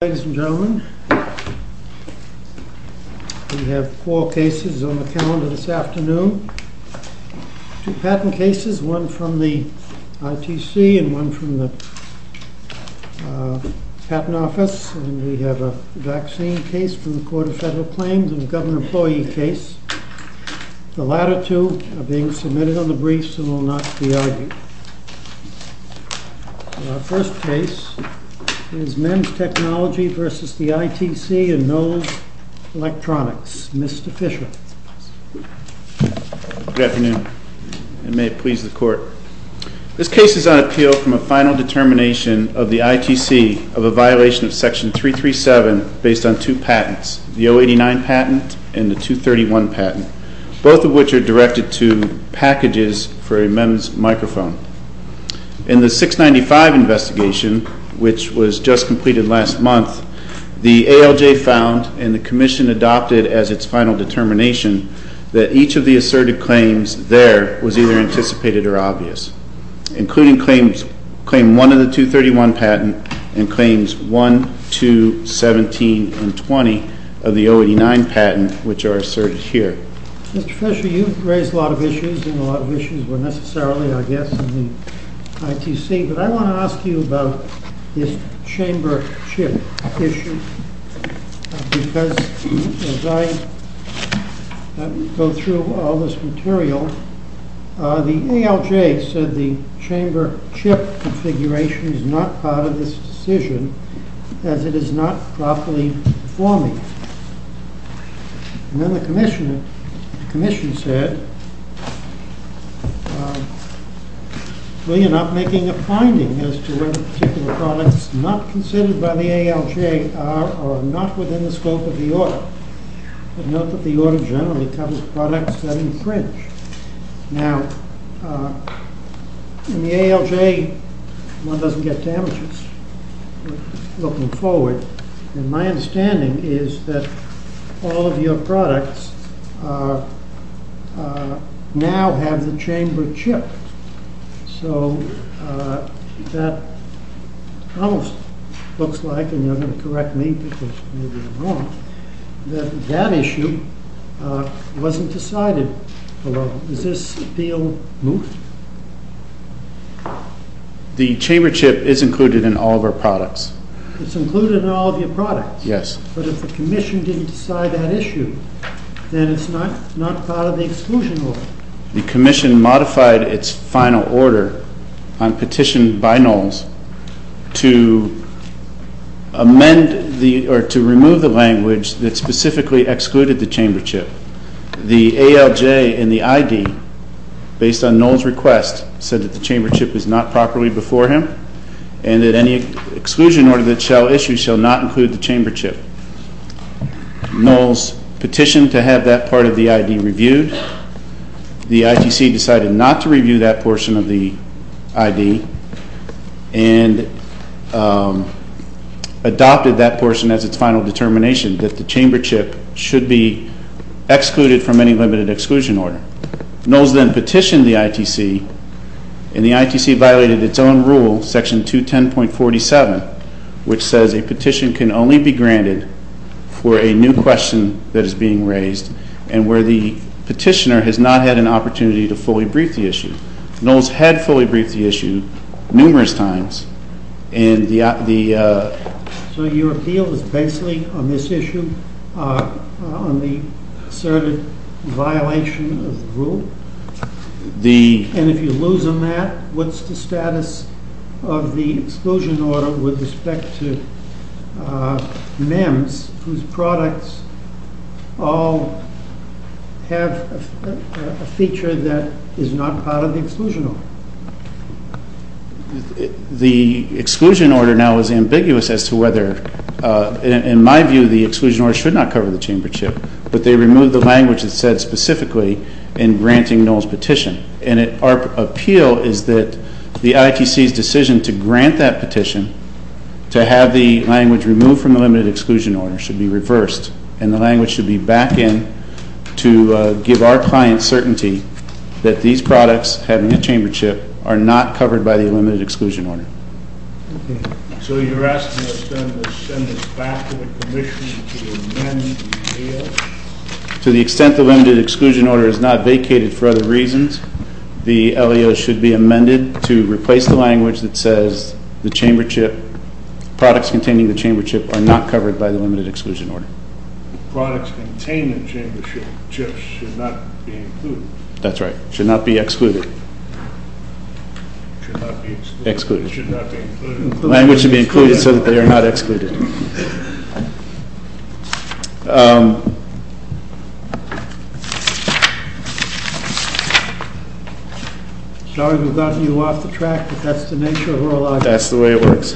Ladies and gentlemen, we have four cases on the calendar this afternoon, two patent cases, one from the ITC and one from the Patent Office, and we have a vaccine case from the Court of Federal Claims and a government employee case. The latter two are being submitted on the briefs and will not be argued. Our first case is MEMS TECH v. ITC and Knowles Electronics. Mr. Fisher. Good afternoon, and may it please the Court. This case is on appeal from a final determination of the ITC of a violation of Section 337 based on two patents, the 089 patent and the 231 patent, both of which are directed to packages for a MEMS microphone. In the 695 investigation, which was just completed last month, the ALJ found and the Commission adopted as its final determination that each of the asserted claims there was either anticipated or obvious, including Claim 1 of the 231 patent and Claims 1, 2, 17, and 20 of the 089 patent, which are asserted here. Mr. Fisher, you've raised a lot of issues, and a lot of issues were necessarily, I guess, in the ITC, but I want to ask you about this chamber chip issue, because as I go through all this material, the ALJ said the chamber chip configuration is not part of this decision, as it is not properly performing. And then the Commission said, well, you're not making a finding as to whether particular products not considered by the ALJ are or are not within the scope of the order. But note that the order generally covers products that infringe. Now, in the ALJ, one doesn't get damages looking forward, and my understanding is that all of your products now have the chamber chip. So that almost looks like, and you're going to correct me because maybe I'm wrong, that that issue wasn't decided. Does this deal move? The chamber chip is included in all of our products. It's included in all of your products? Yes. But if the Commission didn't decide that issue, then it's not part of the exclusion order. The Commission modified its final order on petition by Knowles to amend or to remove the language that specifically excluded the chamber chip. The ALJ in the ID, based on Knowles' request, said that the chamber chip was not properly before him and that any exclusion order that shall issue shall not include the chamber chip. Knowles petitioned to have that part of the ID reviewed. The ITC decided not to review that portion of the ID and adopted that portion as its final determination, that the chamber chip should be excluded from any limited exclusion order. Knowles then petitioned the ITC, and the ITC violated its own rule, Section 210.47, which says a petition can only be granted for a new question that is being raised and where the petitioner has not had an opportunity to fully brief the issue. Knowles had fully briefed the issue numerous times. So your appeal is basically on this issue, on the asserted violation of the rule? And if you lose on that, what's the status of the exclusion order with respect to MEMS, whose products all have a feature that is not part of the exclusion order? The exclusion order now is ambiguous as to whether, in my view, the exclusion order should not cover the chamber chip, but they removed the language that said specifically in granting Knowles' petition. And our appeal is that the ITC's decision to grant that petition, to have the language removed from the limited exclusion order, should be reversed, and the language should be back in to give our clients certainty that these products, having a chamber chip, are not covered by the limited exclusion order. So you're asking us then to send this back to the Commission to amend the AO? To the extent the limited exclusion order is not vacated for other reasons, the AO should be amended to replace the language that says the chamber chip, products containing the chamber chip, are not covered by the limited exclusion order. Products containing the chamber chip should not be included? That's right. Should not be excluded. Should not be excluded. Language should be included so that they are not excluded. Sorry we got you off the track, but that's the nature of our logic. That's the way it works.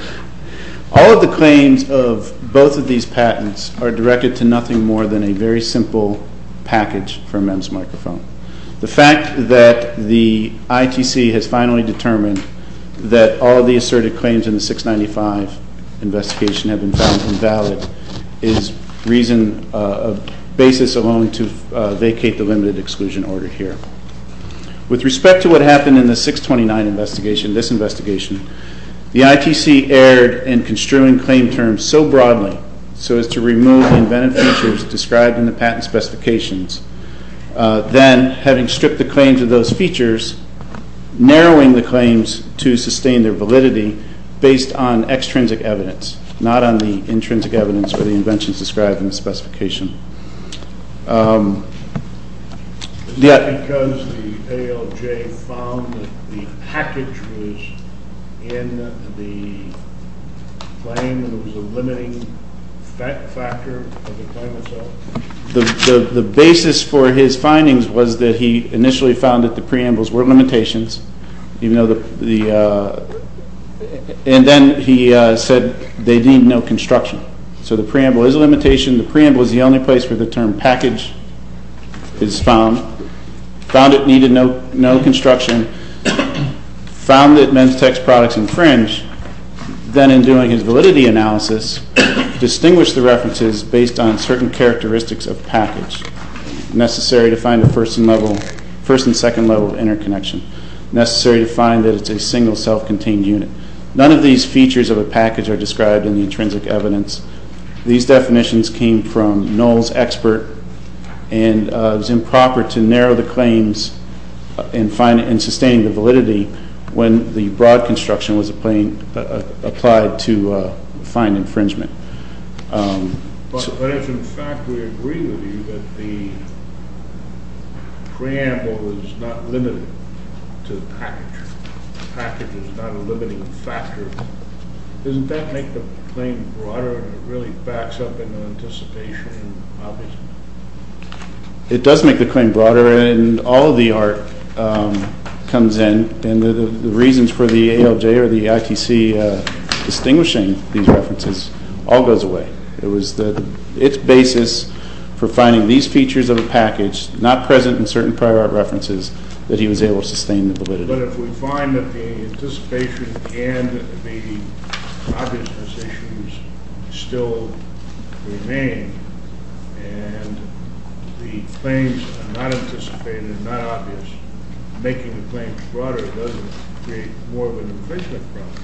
All of the claims of both of these patents are directed to nothing more than a very simple package for MEMS Microphone. The fact that the ITC has finally determined that all of the asserted claims in the 695 investigation have been found invalid is reason of basis alone to vacate the limited exclusion order here. With respect to what happened in the 629 investigation, this investigation, the ITC erred in construing claim terms so broadly, so as to remove the inventive features described in the patent specifications, then having stripped the claims of those features, narrowing the claims to sustain their validity based on extrinsic evidence, not on the intrinsic evidence or the inventions described in the specification. Is that because the ALJ found that the package was in the claim and it was a limiting factor of the claim itself? The basis for his findings was that he initially found that the preambles were limitations, and then he said they deemed no construction. So the preamble is a limitation. The preamble is the only place where the term package is found. Found it needed no construction. Found that MEMSTEC's products infringe. Then in doing his validity analysis, distinguished the references based on certain characteristics of package necessary to find the first and second level of interconnection, necessary to find that it's a single self-contained unit. None of these features of a package are described in the intrinsic evidence. These definitions came from Knoll's expert, and it was improper to narrow the claims and sustain the validity when the broad construction was applied to find infringement. But if, in fact, we agree with you that the preamble is not limited to the package, the package is not a limiting factor, doesn't that make the claim broader and it really backs up in anticipation? It does make the claim broader, and all of the art comes in, and the reasons for the ALJ or the ITC distinguishing these references all goes away. It was its basis for finding these features of a package not present in certain prior art references that he was able to sustain the validity. But if we find that the anticipation and the obvious positions still remain and the claims are not anticipated and not obvious, making the claims broader doesn't create more of an infringement problem.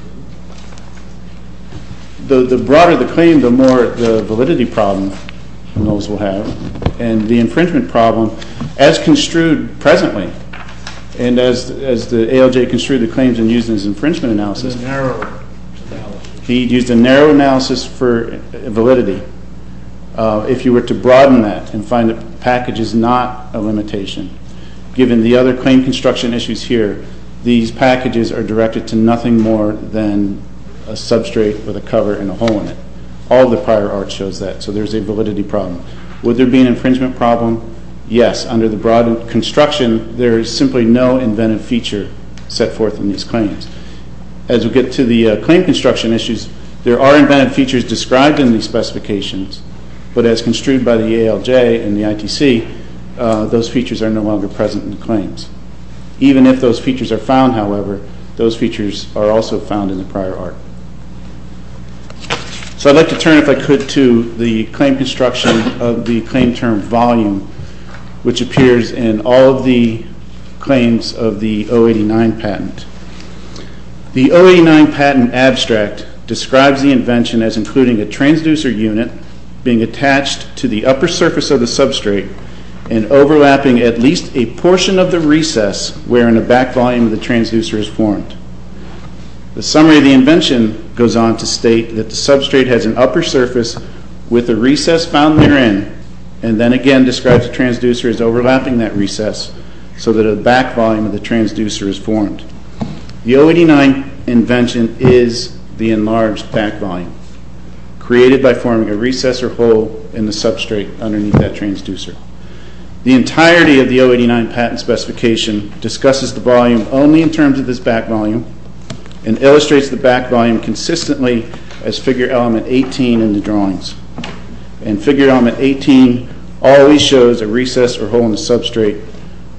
The broader the claim, the more the validity problem Knolls will have, and the infringement problem, as construed presently, and as the ALJ construed the claims and used it as infringement analysis, he used a narrow analysis for validity. If you were to broaden that and find the package is not a limitation, given the other claim construction issues here, these packages are directed to nothing more than a substrate with a cover and a hole in it. All the prior art shows that, so there's a validity problem. Would there be an infringement problem? Yes, under the broad construction, there is simply no inventive feature set forth in these claims. As we get to the claim construction issues, there are inventive features described in these specifications, but as construed by the ALJ and the ITC, those features are no longer present in the claims. Even if those features are found, however, those features are also found in the prior art. So I'd like to turn, if I could, to the claim construction of the claim term volume, which appears in all of the claims of the 089 patent. The 089 patent abstract describes the invention as including a transducer unit being attached to the upper surface of the substrate and overlapping at least a portion of the recess wherein a back volume of the transducer is formed. The summary of the invention goes on to state that the substrate has an upper surface with a recess found therein and then again describes a transducer as overlapping that recess so that a back volume of the transducer is formed. The 089 invention is the enlarged back volume created by forming a recess or hole in the substrate underneath that transducer. The entirety of the 089 patent specification discusses the volume only in terms of this back volume and illustrates the back volume consistently as figure element 18 in the drawings. And figure element 18 always shows a recess or hole in the substrate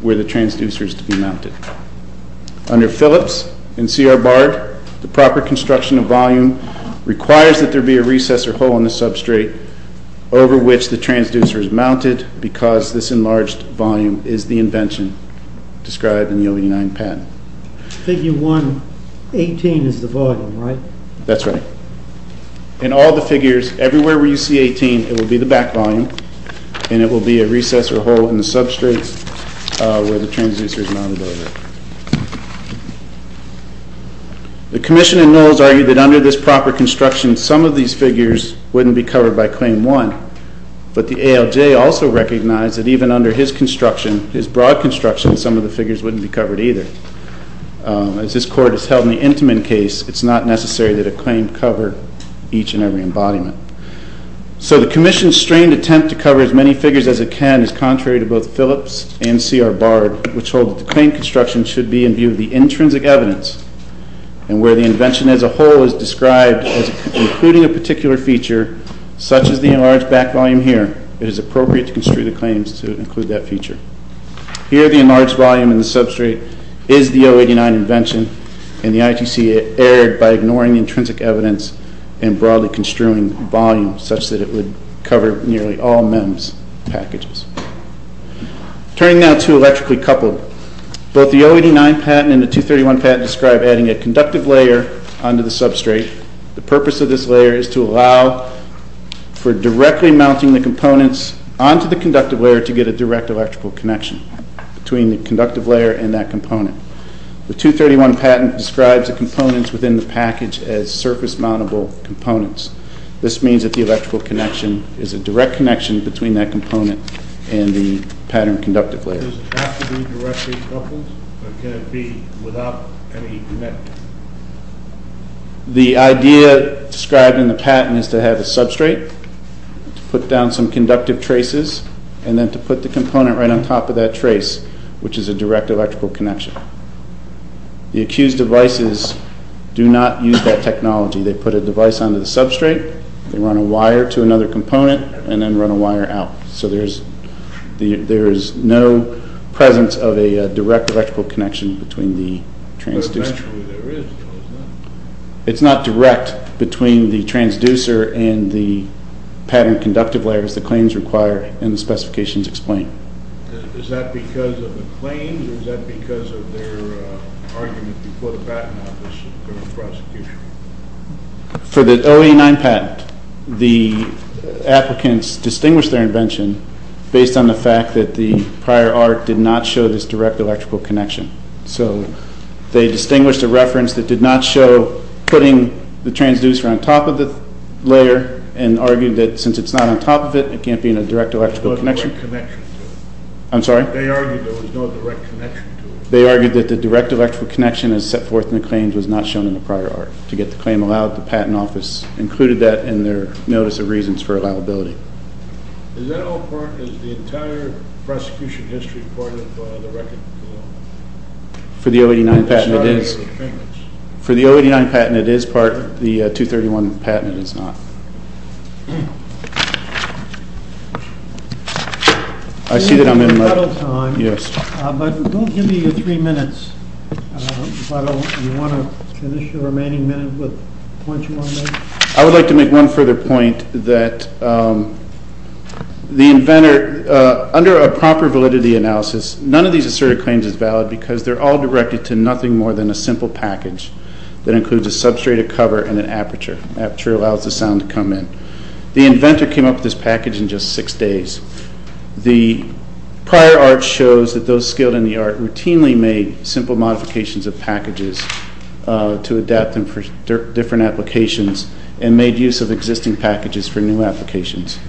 where the transducer is to be mounted. Under Phillips and C.R. Bard, the proper construction of volume requires that there be a recess or hole in the substrate over which the transducer is mounted because this enlarged volume is the invention described in the 089 patent. Figure 1, 18 is the volume, right? That's right. In all the figures, everywhere where you see 18, it will be the back volume and it will be a recess or hole in the substrate where the transducer is mounted over. The Commission in Knowles argued that under this proper construction some of these figures wouldn't be covered by Claim 1 but the ALJ also recognized that even under his construction, his broad construction, some of the figures wouldn't be covered either. As this Court has held in the Intiman case, it's not necessary that a claim cover each and every embodiment. So the Commission's strained attempt to cover as many figures as it can is contrary to both Phillips and C.R. Bard which hold that the claim construction should be in view of the intrinsic evidence and where the invention as a whole is described as including a particular feature such as the enlarged back volume here, it is appropriate to construe the claims to include that feature. Here the enlarged volume in the substrate is the 089 invention and the ITC erred by ignoring the intrinsic evidence and broadly construing volume such that it would cover nearly all MEMS packages. Turning now to electrically coupled. Both the 089 patent and the 231 patent describe adding a conductive layer onto the substrate. The purpose of this layer is to allow for directly mounting the components onto the conductive layer to get a direct electrical connection between the conductive layer and that component. The 231 patent describes the components within the package as surface mountable components. This means that the electrical connection is a direct connection between that component and the pattern conductive layer. The idea described in the patent is to have a substrate, to put down some conductive traces and then to put the component right on top of that trace which is a direct electrical connection. The accused devices do not use that technology. They put a device onto the substrate, they run a wire to another component, and then run a wire out. So there is no presence of a direct electrical connection between the transducer. It's not direct between the transducer and the pattern conductive layer as the claims require and the specifications explain. Is that because of the claims or is that because of their argument before the patent office or the prosecution? For the 089 patent, the applicants distinguished their invention based on the fact that the prior art did not show this direct electrical connection. So they distinguished a reference that did not show putting the transducer on top of the layer and argued that since it's not on top of it, it can't be in a direct electrical connection. I'm sorry? They argued there was no direct connection to it. They argued that the direct electrical connection as set forth in the claims was not shown in the prior art. To get the claim allowed, the patent office included that in their notice of reasons for allowability. Is that all part, is the entire prosecution history part of the record? For the 089 patent, it is. For the 089 patent, it is part. The 231 patent is not. I see that I'm in my... Yes. I would like to make one further point that the inventor, under a proper validity analysis, none of these asserted claims is valid because they're all directed to nothing more than a simple package that includes a substrate of cover and an aperture. Aperture allows the sound to come in. The inventor came up with this package in just six days. The prior art shows that those skilled in the art routinely made simple modifications of packages to adapt them for different applications and made use of existing packages for new applications.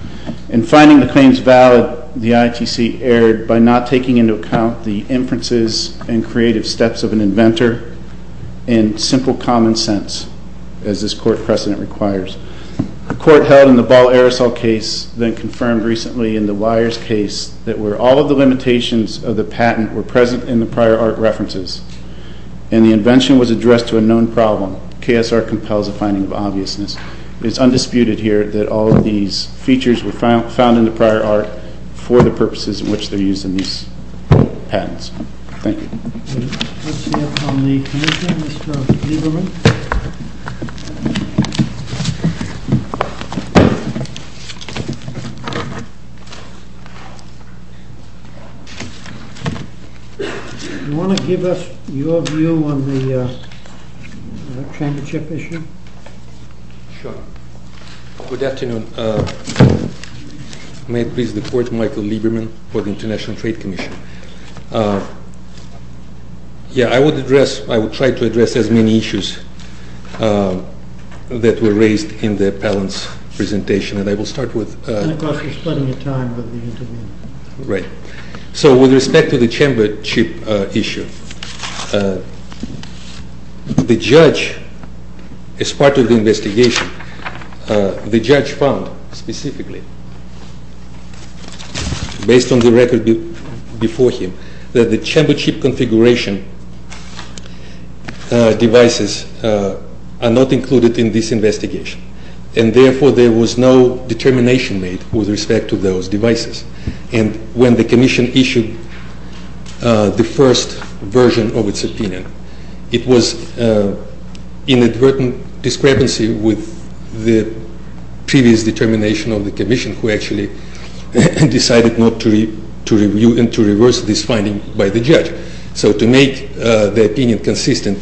In finding the claims valid, the ITC erred by not taking into account the inferences and creative steps of an inventor and simple common sense, as this court precedent requires. The court held in the Ball aerosol case, then confirmed recently in the Wires case, that where all of the limitations of the patent were present in the prior art references and the invention was addressed to a known problem, KSR compels a finding of obviousness. It's undisputed here that all of these features were found in the prior art for the purposes in which they're used in these patents. Thank you. Let's hear from the Commissioner, Mr. Lieberman. Do you want to give us your view on the championship issue? Sure. Good afternoon. May it please the Court, Michael Lieberman, for the International Trade Commission. Yeah, I would address, I would try to address as many issues that were raised in the appellant's presentation. And I will start with... And of course, we're splitting the time. Right. So, with respect to the championship issue, the judge, as part of the investigation, the judge found, specifically, based on the record before him, that the championship configuration devices are not included in this investigation. And therefore, there was no determination made with respect to those devices. And when the Commission issued the first version of its opinion, it was inadvertent discrepancy with the previous determination of the Commission, who actually decided not to review and to reverse this finding by the judge. So, to make the opinion consistent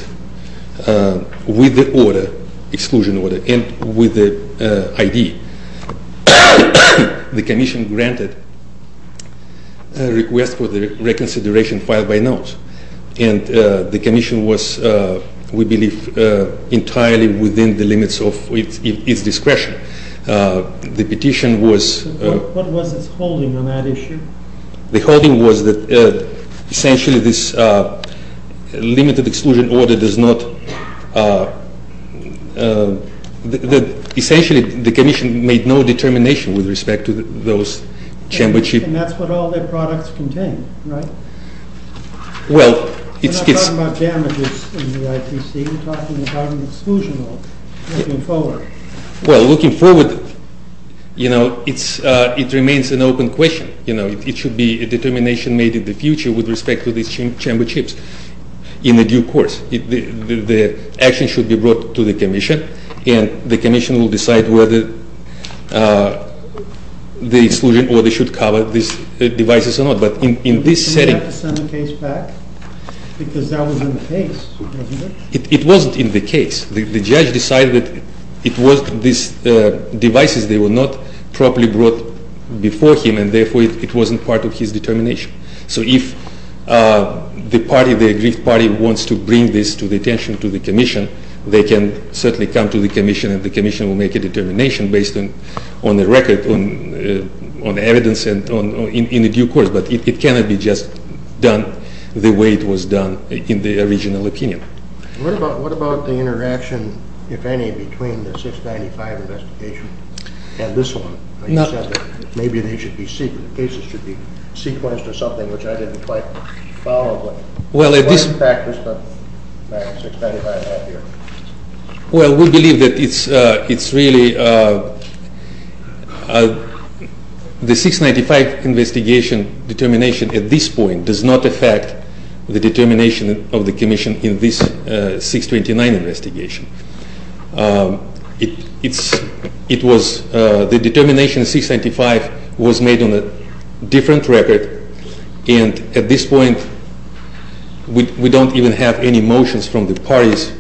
with the order, exclusion order, and with the ID, the Commission granted a request for the reconsideration filed by note. And the Commission was, we believe, entirely within the limits of its discretion. The petition was... What was its holding on that issue? The holding was that, essentially, this limited exclusion order does not... Essentially, the Commission made no determination with respect to those championship... And that's what all their products contain, right? Well, it's... We're not talking about damages in the IPC. We're talking about an exclusion order, looking forward. Well, looking forward, you know, it remains an open question. You know, it should be a determination made in the future with respect to these championships in the due course. The action should be brought to the Commission, and the Commission will decide whether the exclusion order should cover these devices or not. But in this setting... Didn't they have to send the case back? Because that was in the case, wasn't it? It wasn't in the case. The judge decided that it was... These devices, they were not properly brought before him, and therefore, it wasn't part of his determination. So, if the party, the aggrieved party, wants to bring this to the attention to the Commission, they can certainly come to the Commission, and the Commission will make a determination based on the record, on the evidence in the due course. But it cannot be just done the way it was done in the original opinion. What about the interaction, if any, between the 695 investigation and this one? You said that maybe they should be sequenced. The cases should be sequenced or something, which I didn't quite follow. Well, we believe that it's really... The 695 investigation determination at this point does not affect the determination of the Commission in this 629 investigation. The determination of 695 was made on a different record, and at this point, we don't even have any motions from the parties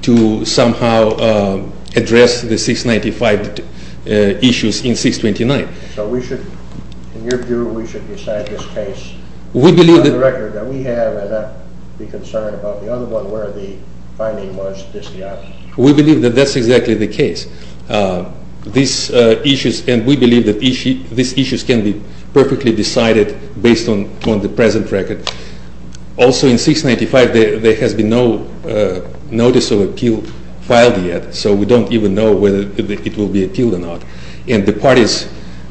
to somehow address the 695 issues in 629. So we should, in your view, we should decide this case on the record that we have, and not be concerned about the other one where the finding was just not... We believe that that's exactly the case. These issues, and we believe that these issues can be perfectly decided based on the present record. Also, in 695, there has been no notice of appeal filed yet, so we don't even know whether it will be appealed or not. And the parties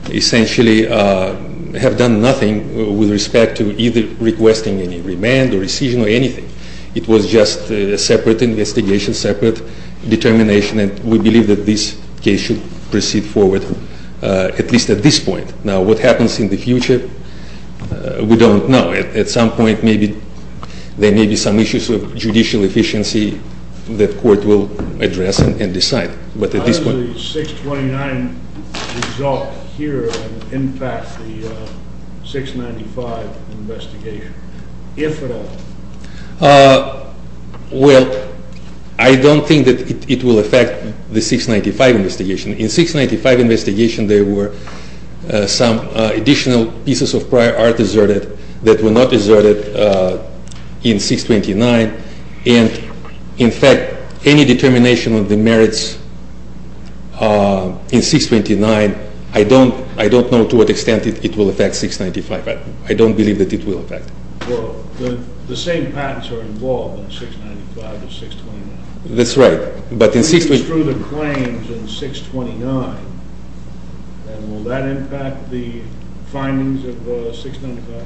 essentially have done nothing with respect to either requesting any remand or rescission or anything. It was just a separate investigation, separate determination, and we believe that this case should proceed forward, at least at this point. Now, what happens in the future, we don't know. At some point, maybe there may be some issues of judicial efficiency that court will address and decide. But at this point... How does the 629 result here impact the 695 investigation, if at all? Well, I don't think that it will affect the 695 investigation. In the 695 investigation, there were some additional pieces of prior art deserted that were not deserted in 629. And, in fact, any determination of the merits in 629, I don't know to what extent it will affect 695. I don't believe that it will affect it. Well, the same patents are involved in 695 and 629. That's right. But in 629... We construe the claims in 629, and will that impact the findings of 695?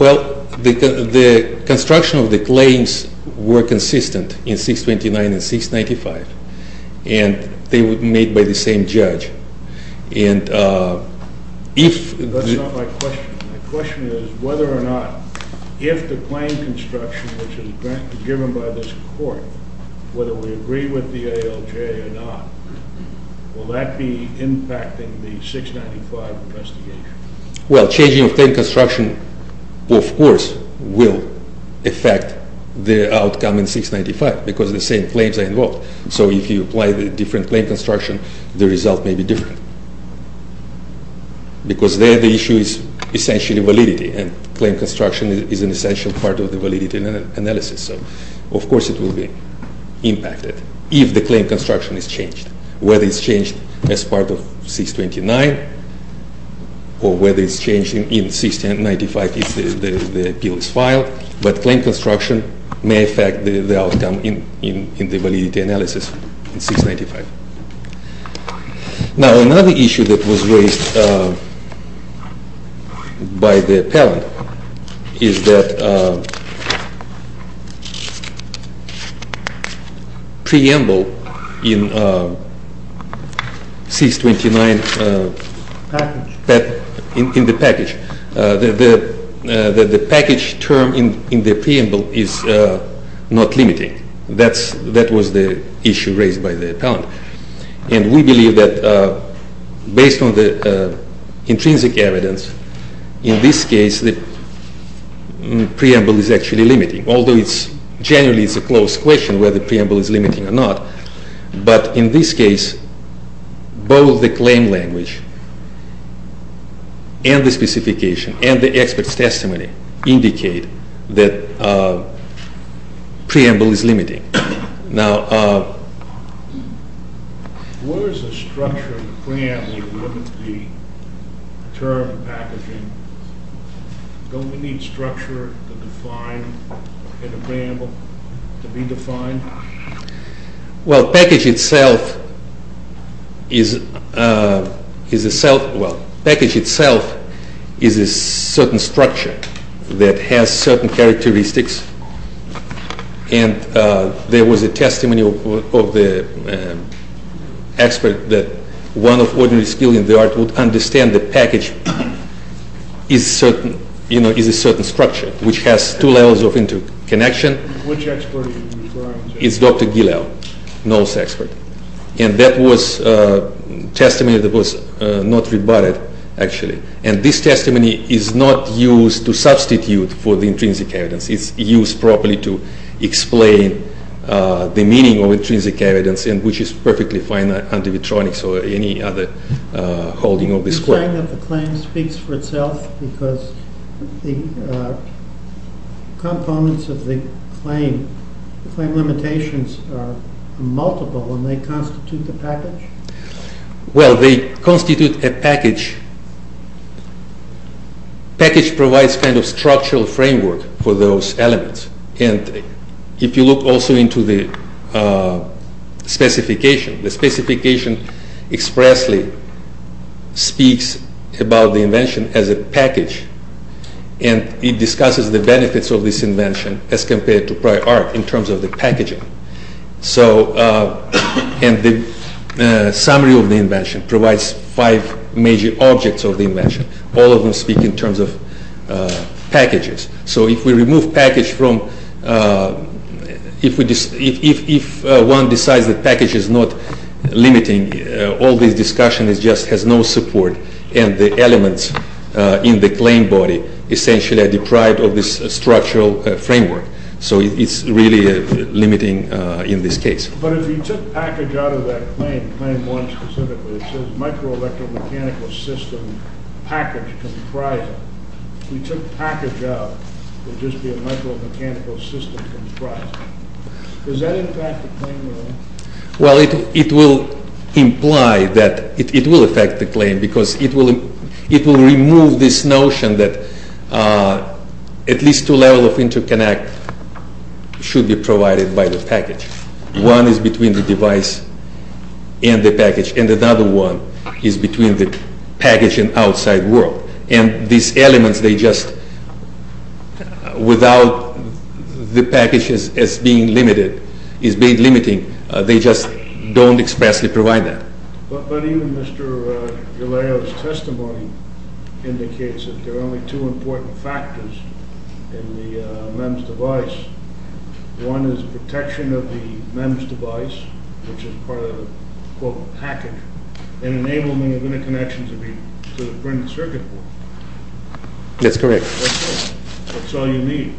Well, the construction of the claims were consistent in 629 and 695, and they were made by the same judge. And if... That's not my question. My question is whether or not, if the claim construction, which is given by this court, whether we agree with the ALJ or not, will that be impacting the 695 investigation? Well, changing the claim construction, of course, will affect the outcome in 695, because the same claims are involved. So if you apply the different claim construction, the result may be different. Because there the issue is essentially validity, and claim construction is an essential part of the validity analysis. So, of course, it will be impacted if the claim construction is changed, whether it's changed as part of 629 or whether it's changed in 695, if the appeal is filed. But claim construction may affect the outcome in the validity analysis in 695. Now, another issue that was raised by the appellant is that preamble in 629... Package. In the package. The package term in the preamble is not limiting. That was the issue raised by the appellant. And we believe that based on the intrinsic evidence, in this case the preamble is actually limiting, although generally it's a close question whether the preamble is limiting or not. But in this case, both the claim language and the specification and the expert's testimony indicate that preamble is limiting. Now... What is the structure of the preamble to limit the term packaging? Don't we need structure to define the preamble to be defined? Well, package itself is a self... Well, package itself is a certain structure that has certain characteristics. And there was a testimony of the expert that one of ordinary skilled in the art would understand the package is a certain structure, which has two levels of interconnection. Which expert are you referring to? It's Dr. Gilel, NOLS expert. And that was a testimony that was not rebutted, actually. And this testimony is not used to substitute for the intrinsic evidence. It's used properly to explain the meaning of intrinsic evidence, which is perfectly fine under Vitronics or any other holding of this court. Are you saying that the claim speaks for itself because the components of the claim, the claim limitations are multiple when they constitute the package? Well, they constitute a package. Package provides kind of structural framework for those elements. And if you look also into the specification, the specification expressly speaks about the invention as a package. And it discusses the benefits of this invention as compared to prior art in terms of the packaging. So... And the summary of the invention provides five major objects of the invention. All of them speak in terms of packages. So if we remove package from... If one decides that package is not limiting, all this discussion just has no support. And the elements in the claim body essentially are deprived of this structural framework. So it's really limiting in this case. But if you took package out of that claim, claim one specifically, it says microelectromechanical system package comprising. If you took package out, it would just be a micromechanical system comprising. Is that in fact the claim you're in? Well, it will imply that... It will affect the claim because it will remove this notion that at least two levels of interconnect should be provided by the package. One is between the device and the package. And another one is between the package and outside world. And these elements, they just... The package is being limited, is being limiting. They just don't expressly provide that. But even Mr. Jaleo's testimony indicates that there are only two important factors in the MEMS device. One is protection of the MEMS device, which is part of the, quote, package. And enabling interconnections to the printed circuit board. That's correct. That's all you need.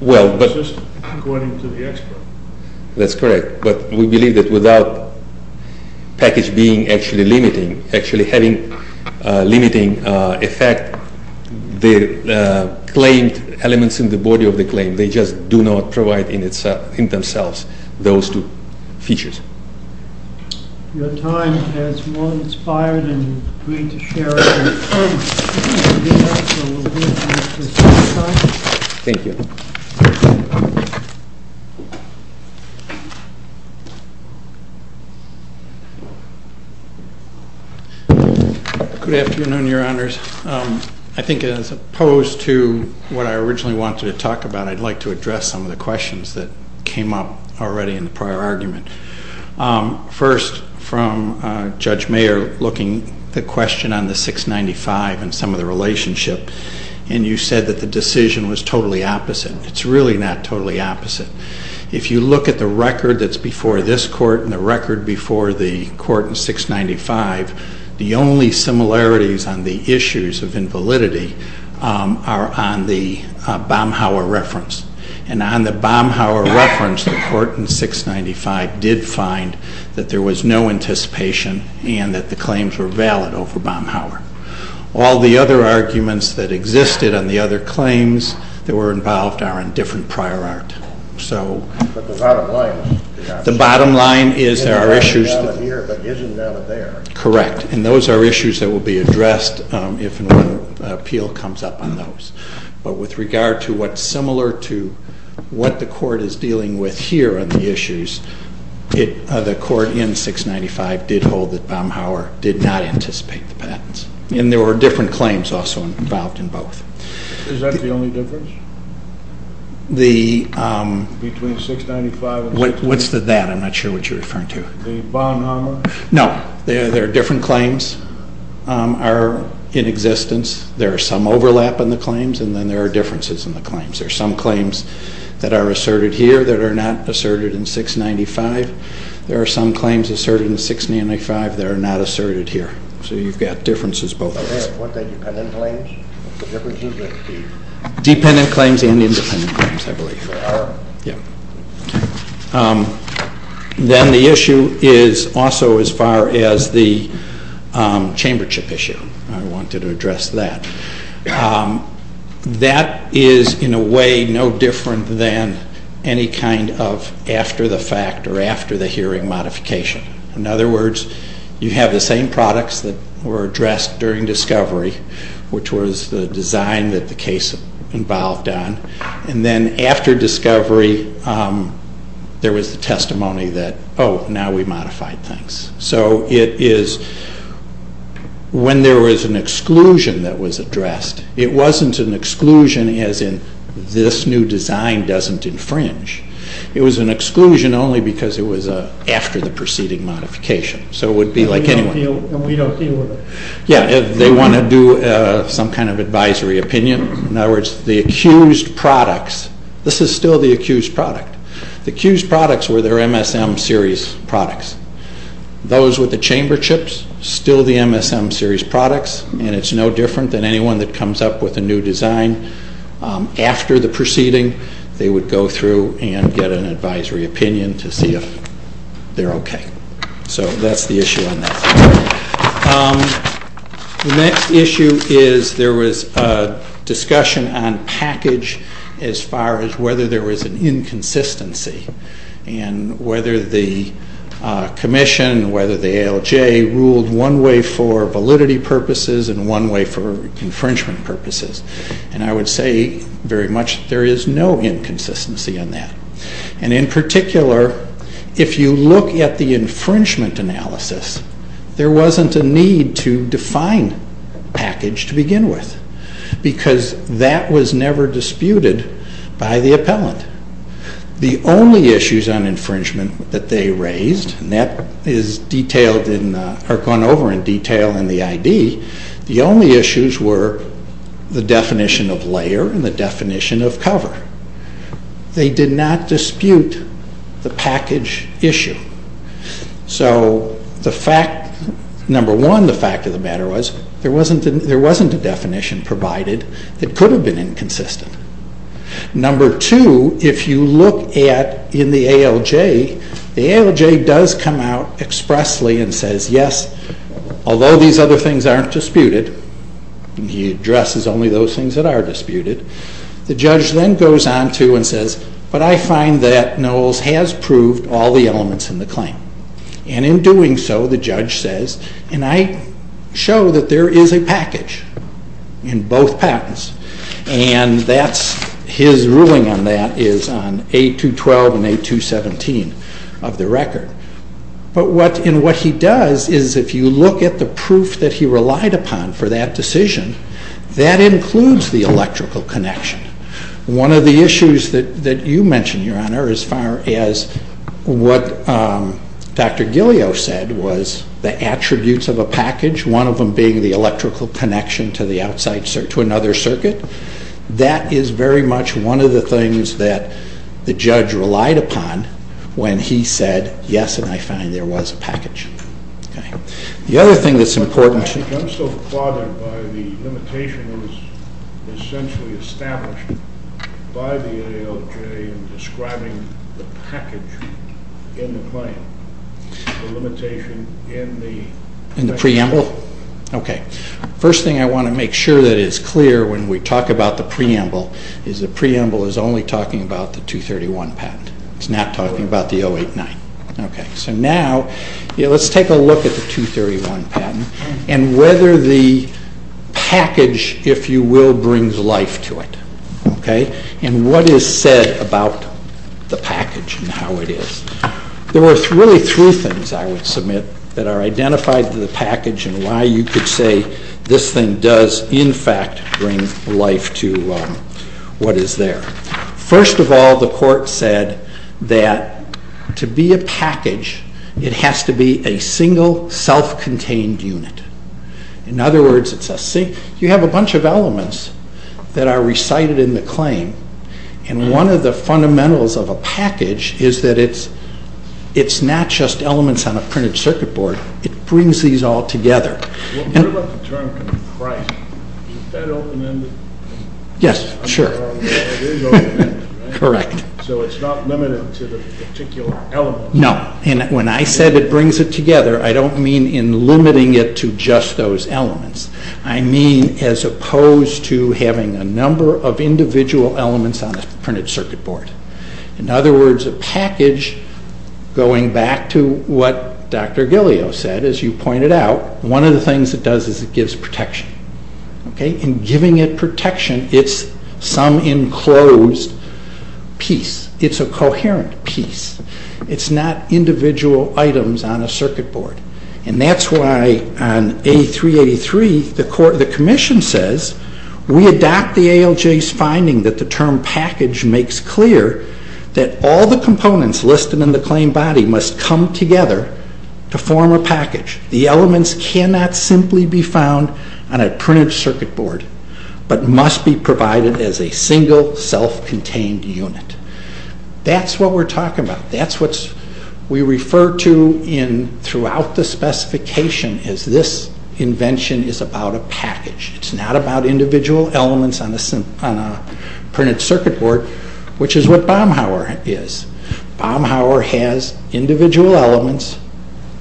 Well, but... According to the expert. That's correct. But we believe that without package being actually limiting, actually having limiting effect, the claimed elements in the body of the claim, they just do not provide in themselves those two features. Your time has more inspired and great to share. Thank you. Good afternoon, your honors. I think as opposed to what I originally wanted to talk about, I'd like to address some of the questions that came up already in the prior argument. First, from Judge Mayer, looking at the question on the 695 and some of the relationship, and you said that the decision was totally opposite. It's really not totally opposite. If you look at the record that's before this court and the record before the court in 695, the only similarities on the issues of invalidity are on the Baumhauer reference. And on the Baumhauer reference, the court in 695 did find that there was no anticipation and that the claims were valid over Baumhauer. All the other arguments that existed on the other claims that were involved are in different prior art. So... But the bottom line... The bottom line is there are issues... Down here, but isn't down there. Correct. And those are issues that will be addressed if an appeal comes up on those. But with regard to what's similar to what the court is dealing with here on the issues, the court in 695 did hold that Baumhauer did not anticipate the patents. And there were different claims also involved in both. Is that the only difference? The... Between 695 and... What's the that? I'm not sure what you're referring to. The Baumhauer... No. There are different claims are in existence. There are some overlap in the claims, and then there are differences in the claims. There are some claims that are asserted here that are not asserted in 695. There are some claims asserted in 695 that are not asserted here. So you've got differences both ways. Dependent claims? Dependent claims and independent claims, I believe. There are? Yeah. Okay. Then the issue is also as far as the chambership issue. I wanted to address that. That is, in a way, no different than any kind of after-the-fact or after-the-hearing modification. In other words, you have the same products that were addressed during discovery, which was the design that the case involved on. And then after discovery, there was the testimony that, oh, now we modified things. So it is when there was an exclusion that was addressed, it wasn't an exclusion as in this new design doesn't infringe. It was an exclusion only because it was after the preceding modification. So it would be like anyway. And we don't deal with it. Yeah. They want to do some kind of advisory opinion. In other words, the accused products, this is still the accused product. The accused products were their MSM series products. Those with the chamberships, still the MSM series products, and it's no different than anyone that comes up with a new design. After the proceeding, they would go through and get an advisory opinion to see if they're okay. So that's the issue on that. The next issue is there was discussion on package as far as whether there was an inconsistency and whether the commission, whether the ALJ ruled one way for validity purposes and one way for infringement purposes. And I would say very much there is no inconsistency on that. And in particular, if you look at the infringement analysis, there wasn't a need to define package to begin with because that was never disputed by the appellant. The only issues on infringement that they raised, and that is gone over in detail in the ID, the only issues were the definition of layer and the definition of cover. They did not dispute the package issue. So the fact, number one, the fact of the matter was there wasn't a definition provided that could have been inconsistent. Number two, if you look at in the ALJ, the ALJ does come out expressly and says, yes, although these other things aren't disputed, and he addresses only those things that are disputed, the judge then goes on to and says, but I find that Knowles has proved all the elements in the claim. And in doing so, the judge says, and I show that there is a package in both patents, and his ruling on that is on A212 and A217 of the record. But what he does is if you look at the proof that he relied upon for that decision, that includes the electrical connection. One of the issues that you mentioned, Your Honor, as far as what Dr. Gillio said was the attributes of a package, one of them being the electrical connection to another circuit, that is very much one of the things that the judge relied upon when he said, yes, and I find there was a package. The other thing that's important. I'm so bothered by the limitation that was essentially established by the ALJ in describing the package in the claim, the limitation in the package. In the preamble? Okay. First thing I want to make sure that is clear when we talk about the preamble is the preamble is only talking about the 231 patent. It's not talking about the 089. Okay. So now let's take a look at the 231 patent and whether the package, if you will, brings life to it. Okay? And what is said about the package and how it is. There were really three things I would submit that are identified in the package and why you could say this thing does, in fact, bring life to what is there. First of all, the court said that to be a package, it has to be a single self-contained unit. In other words, you have a bunch of elements that are recited in the claim and one of the fundamentals of a package is that it's not just elements on a printed circuit board. It brings these all together. What about the term comprise? Is that open-ended? Yes. Yes. Sure. Correct. So it's not limited to the particular element. No. And when I said it brings it together, I don't mean in limiting it to just those elements. I mean as opposed to having a number of individual elements on a printed circuit board. In other words, a package, going back to what Dr. Gillio said, as you pointed out, one of the things it does is it gives protection. In giving it protection, it's some enclosed piece. It's a coherent piece. It's not individual items on a circuit board. And that's why on A383, the commission says, we adopt the ALJ's finding that the term package makes clear that all the components listed in the claim body must come together to form a package. The elements cannot simply be found on a printed circuit board, but must be provided as a single self-contained unit. That's what we're talking about. That's what we refer to throughout the specification as this invention is about a package. It's not about individual elements on a printed circuit board, which is what Baumhauer is. Baumhauer has individual elements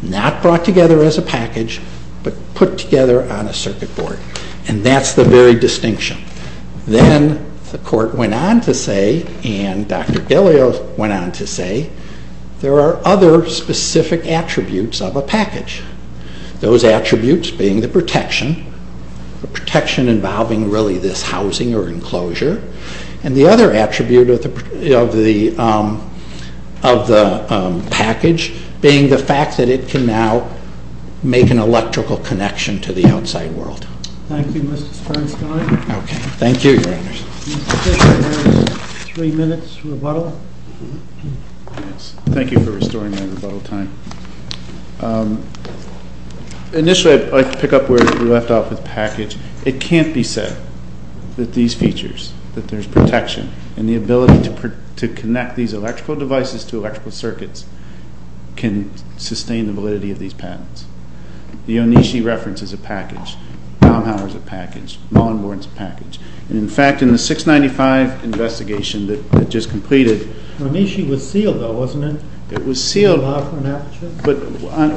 not brought together as a package, but put together on a circuit board. And that's the very distinction. Then the court went on to say, and Dr. Gillio went on to say, there are other specific attributes of a package. Those attributes being the protection, the protection involving really this housing or enclosure, and the other attribute of the package being the fact that it can now make an electrical connection to the outside world. Thank you, Mr. Sternstein. Okay. Thank you, Your Honors. I think we have three minutes rebuttal. Thank you for restoring my rebuttal time. Initially, I'd like to pick up where we left off with package. It can't be said that these features, that there's protection, and the ability to connect these electrical devices to electrical circuits can sustain the validity of these patents. The Onishi reference is a package. Baumhauer is a package. Mullenborn is a package. And, in fact, in the 695 investigation that I just completed— Onishi was sealed, though, wasn't it? It was sealed. But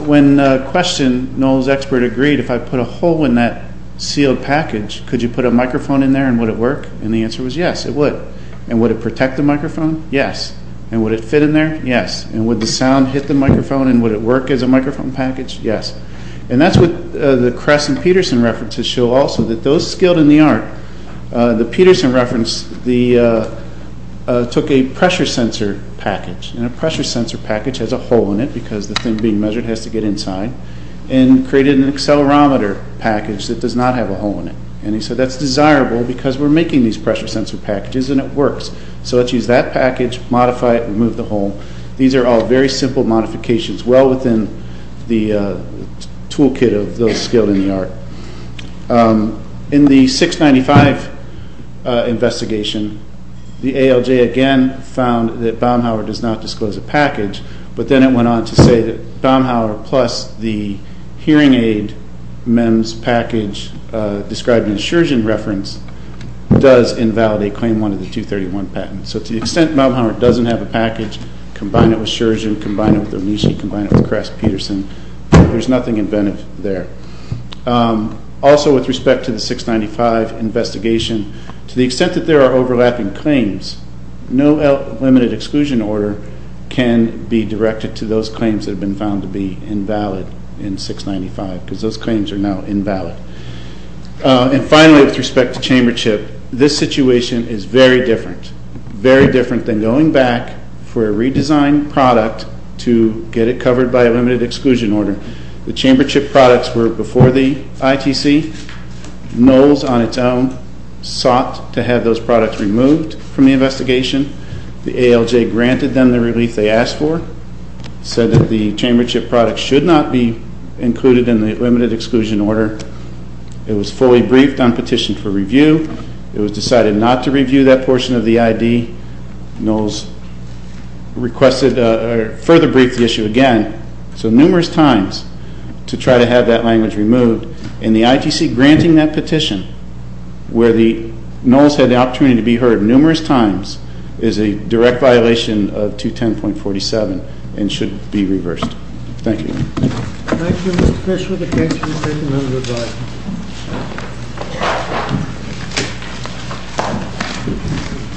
when questioned, Noel's expert agreed, if I put a hole in that sealed package, could you put a microphone in there and would it work? And the answer was yes, it would. And would it protect the microphone? Yes. And would it fit in there? Yes. And would the sound hit the microphone and would it work as a microphone package? Yes. And that's what the Kress and Peterson references show also, that those skilled in the art— the Peterson reference took a pressure sensor package, and a pressure sensor package has a hole in it because the thing being measured has to get inside, and created an accelerometer package that does not have a hole in it. And he said, that's desirable because we're making these pressure sensor packages and it works. So let's use that package, modify it, remove the hole. These are all very simple modifications, well within the toolkit of those skilled in the art. In the 695 investigation, the ALJ again found that Baumhauer does not disclose a package, but then it went on to say that Baumhauer plus the hearing aid MEMS package described in the Shurgeon reference does invalidate Claim 1 of the 231 patent. So to the extent that Baumhauer doesn't have a package, combine it with Shurgeon, combine it with Omishi, combine it with Kress-Peterson, there's nothing inventive there. Also with respect to the 695 investigation, to the extent that there are overlapping claims, no limited exclusion order can be directed to those claims that have been found to be invalid in 695, because those claims are now invalid. And finally, with respect to Chambership, this situation is very different. Very different than going back for a redesigned product to get it covered by a limited exclusion order. The Chambership products were before the ITC. Knowles on its own sought to have those products removed from the investigation. The ALJ granted them the relief they asked for, said that the Chambership products should not be included in the limited exclusion order. It was fully briefed on petition for review. It was decided not to review that portion of the ID. Knowles requested further brief the issue again. So numerous times to try to have that language removed, and the ITC granting that petition where the Knowles had the opportunity to be heard numerous times is a direct violation of 210.47 and should be reversed. Thank you. Thank you, Mr. Fishwood. The case has been taken under review.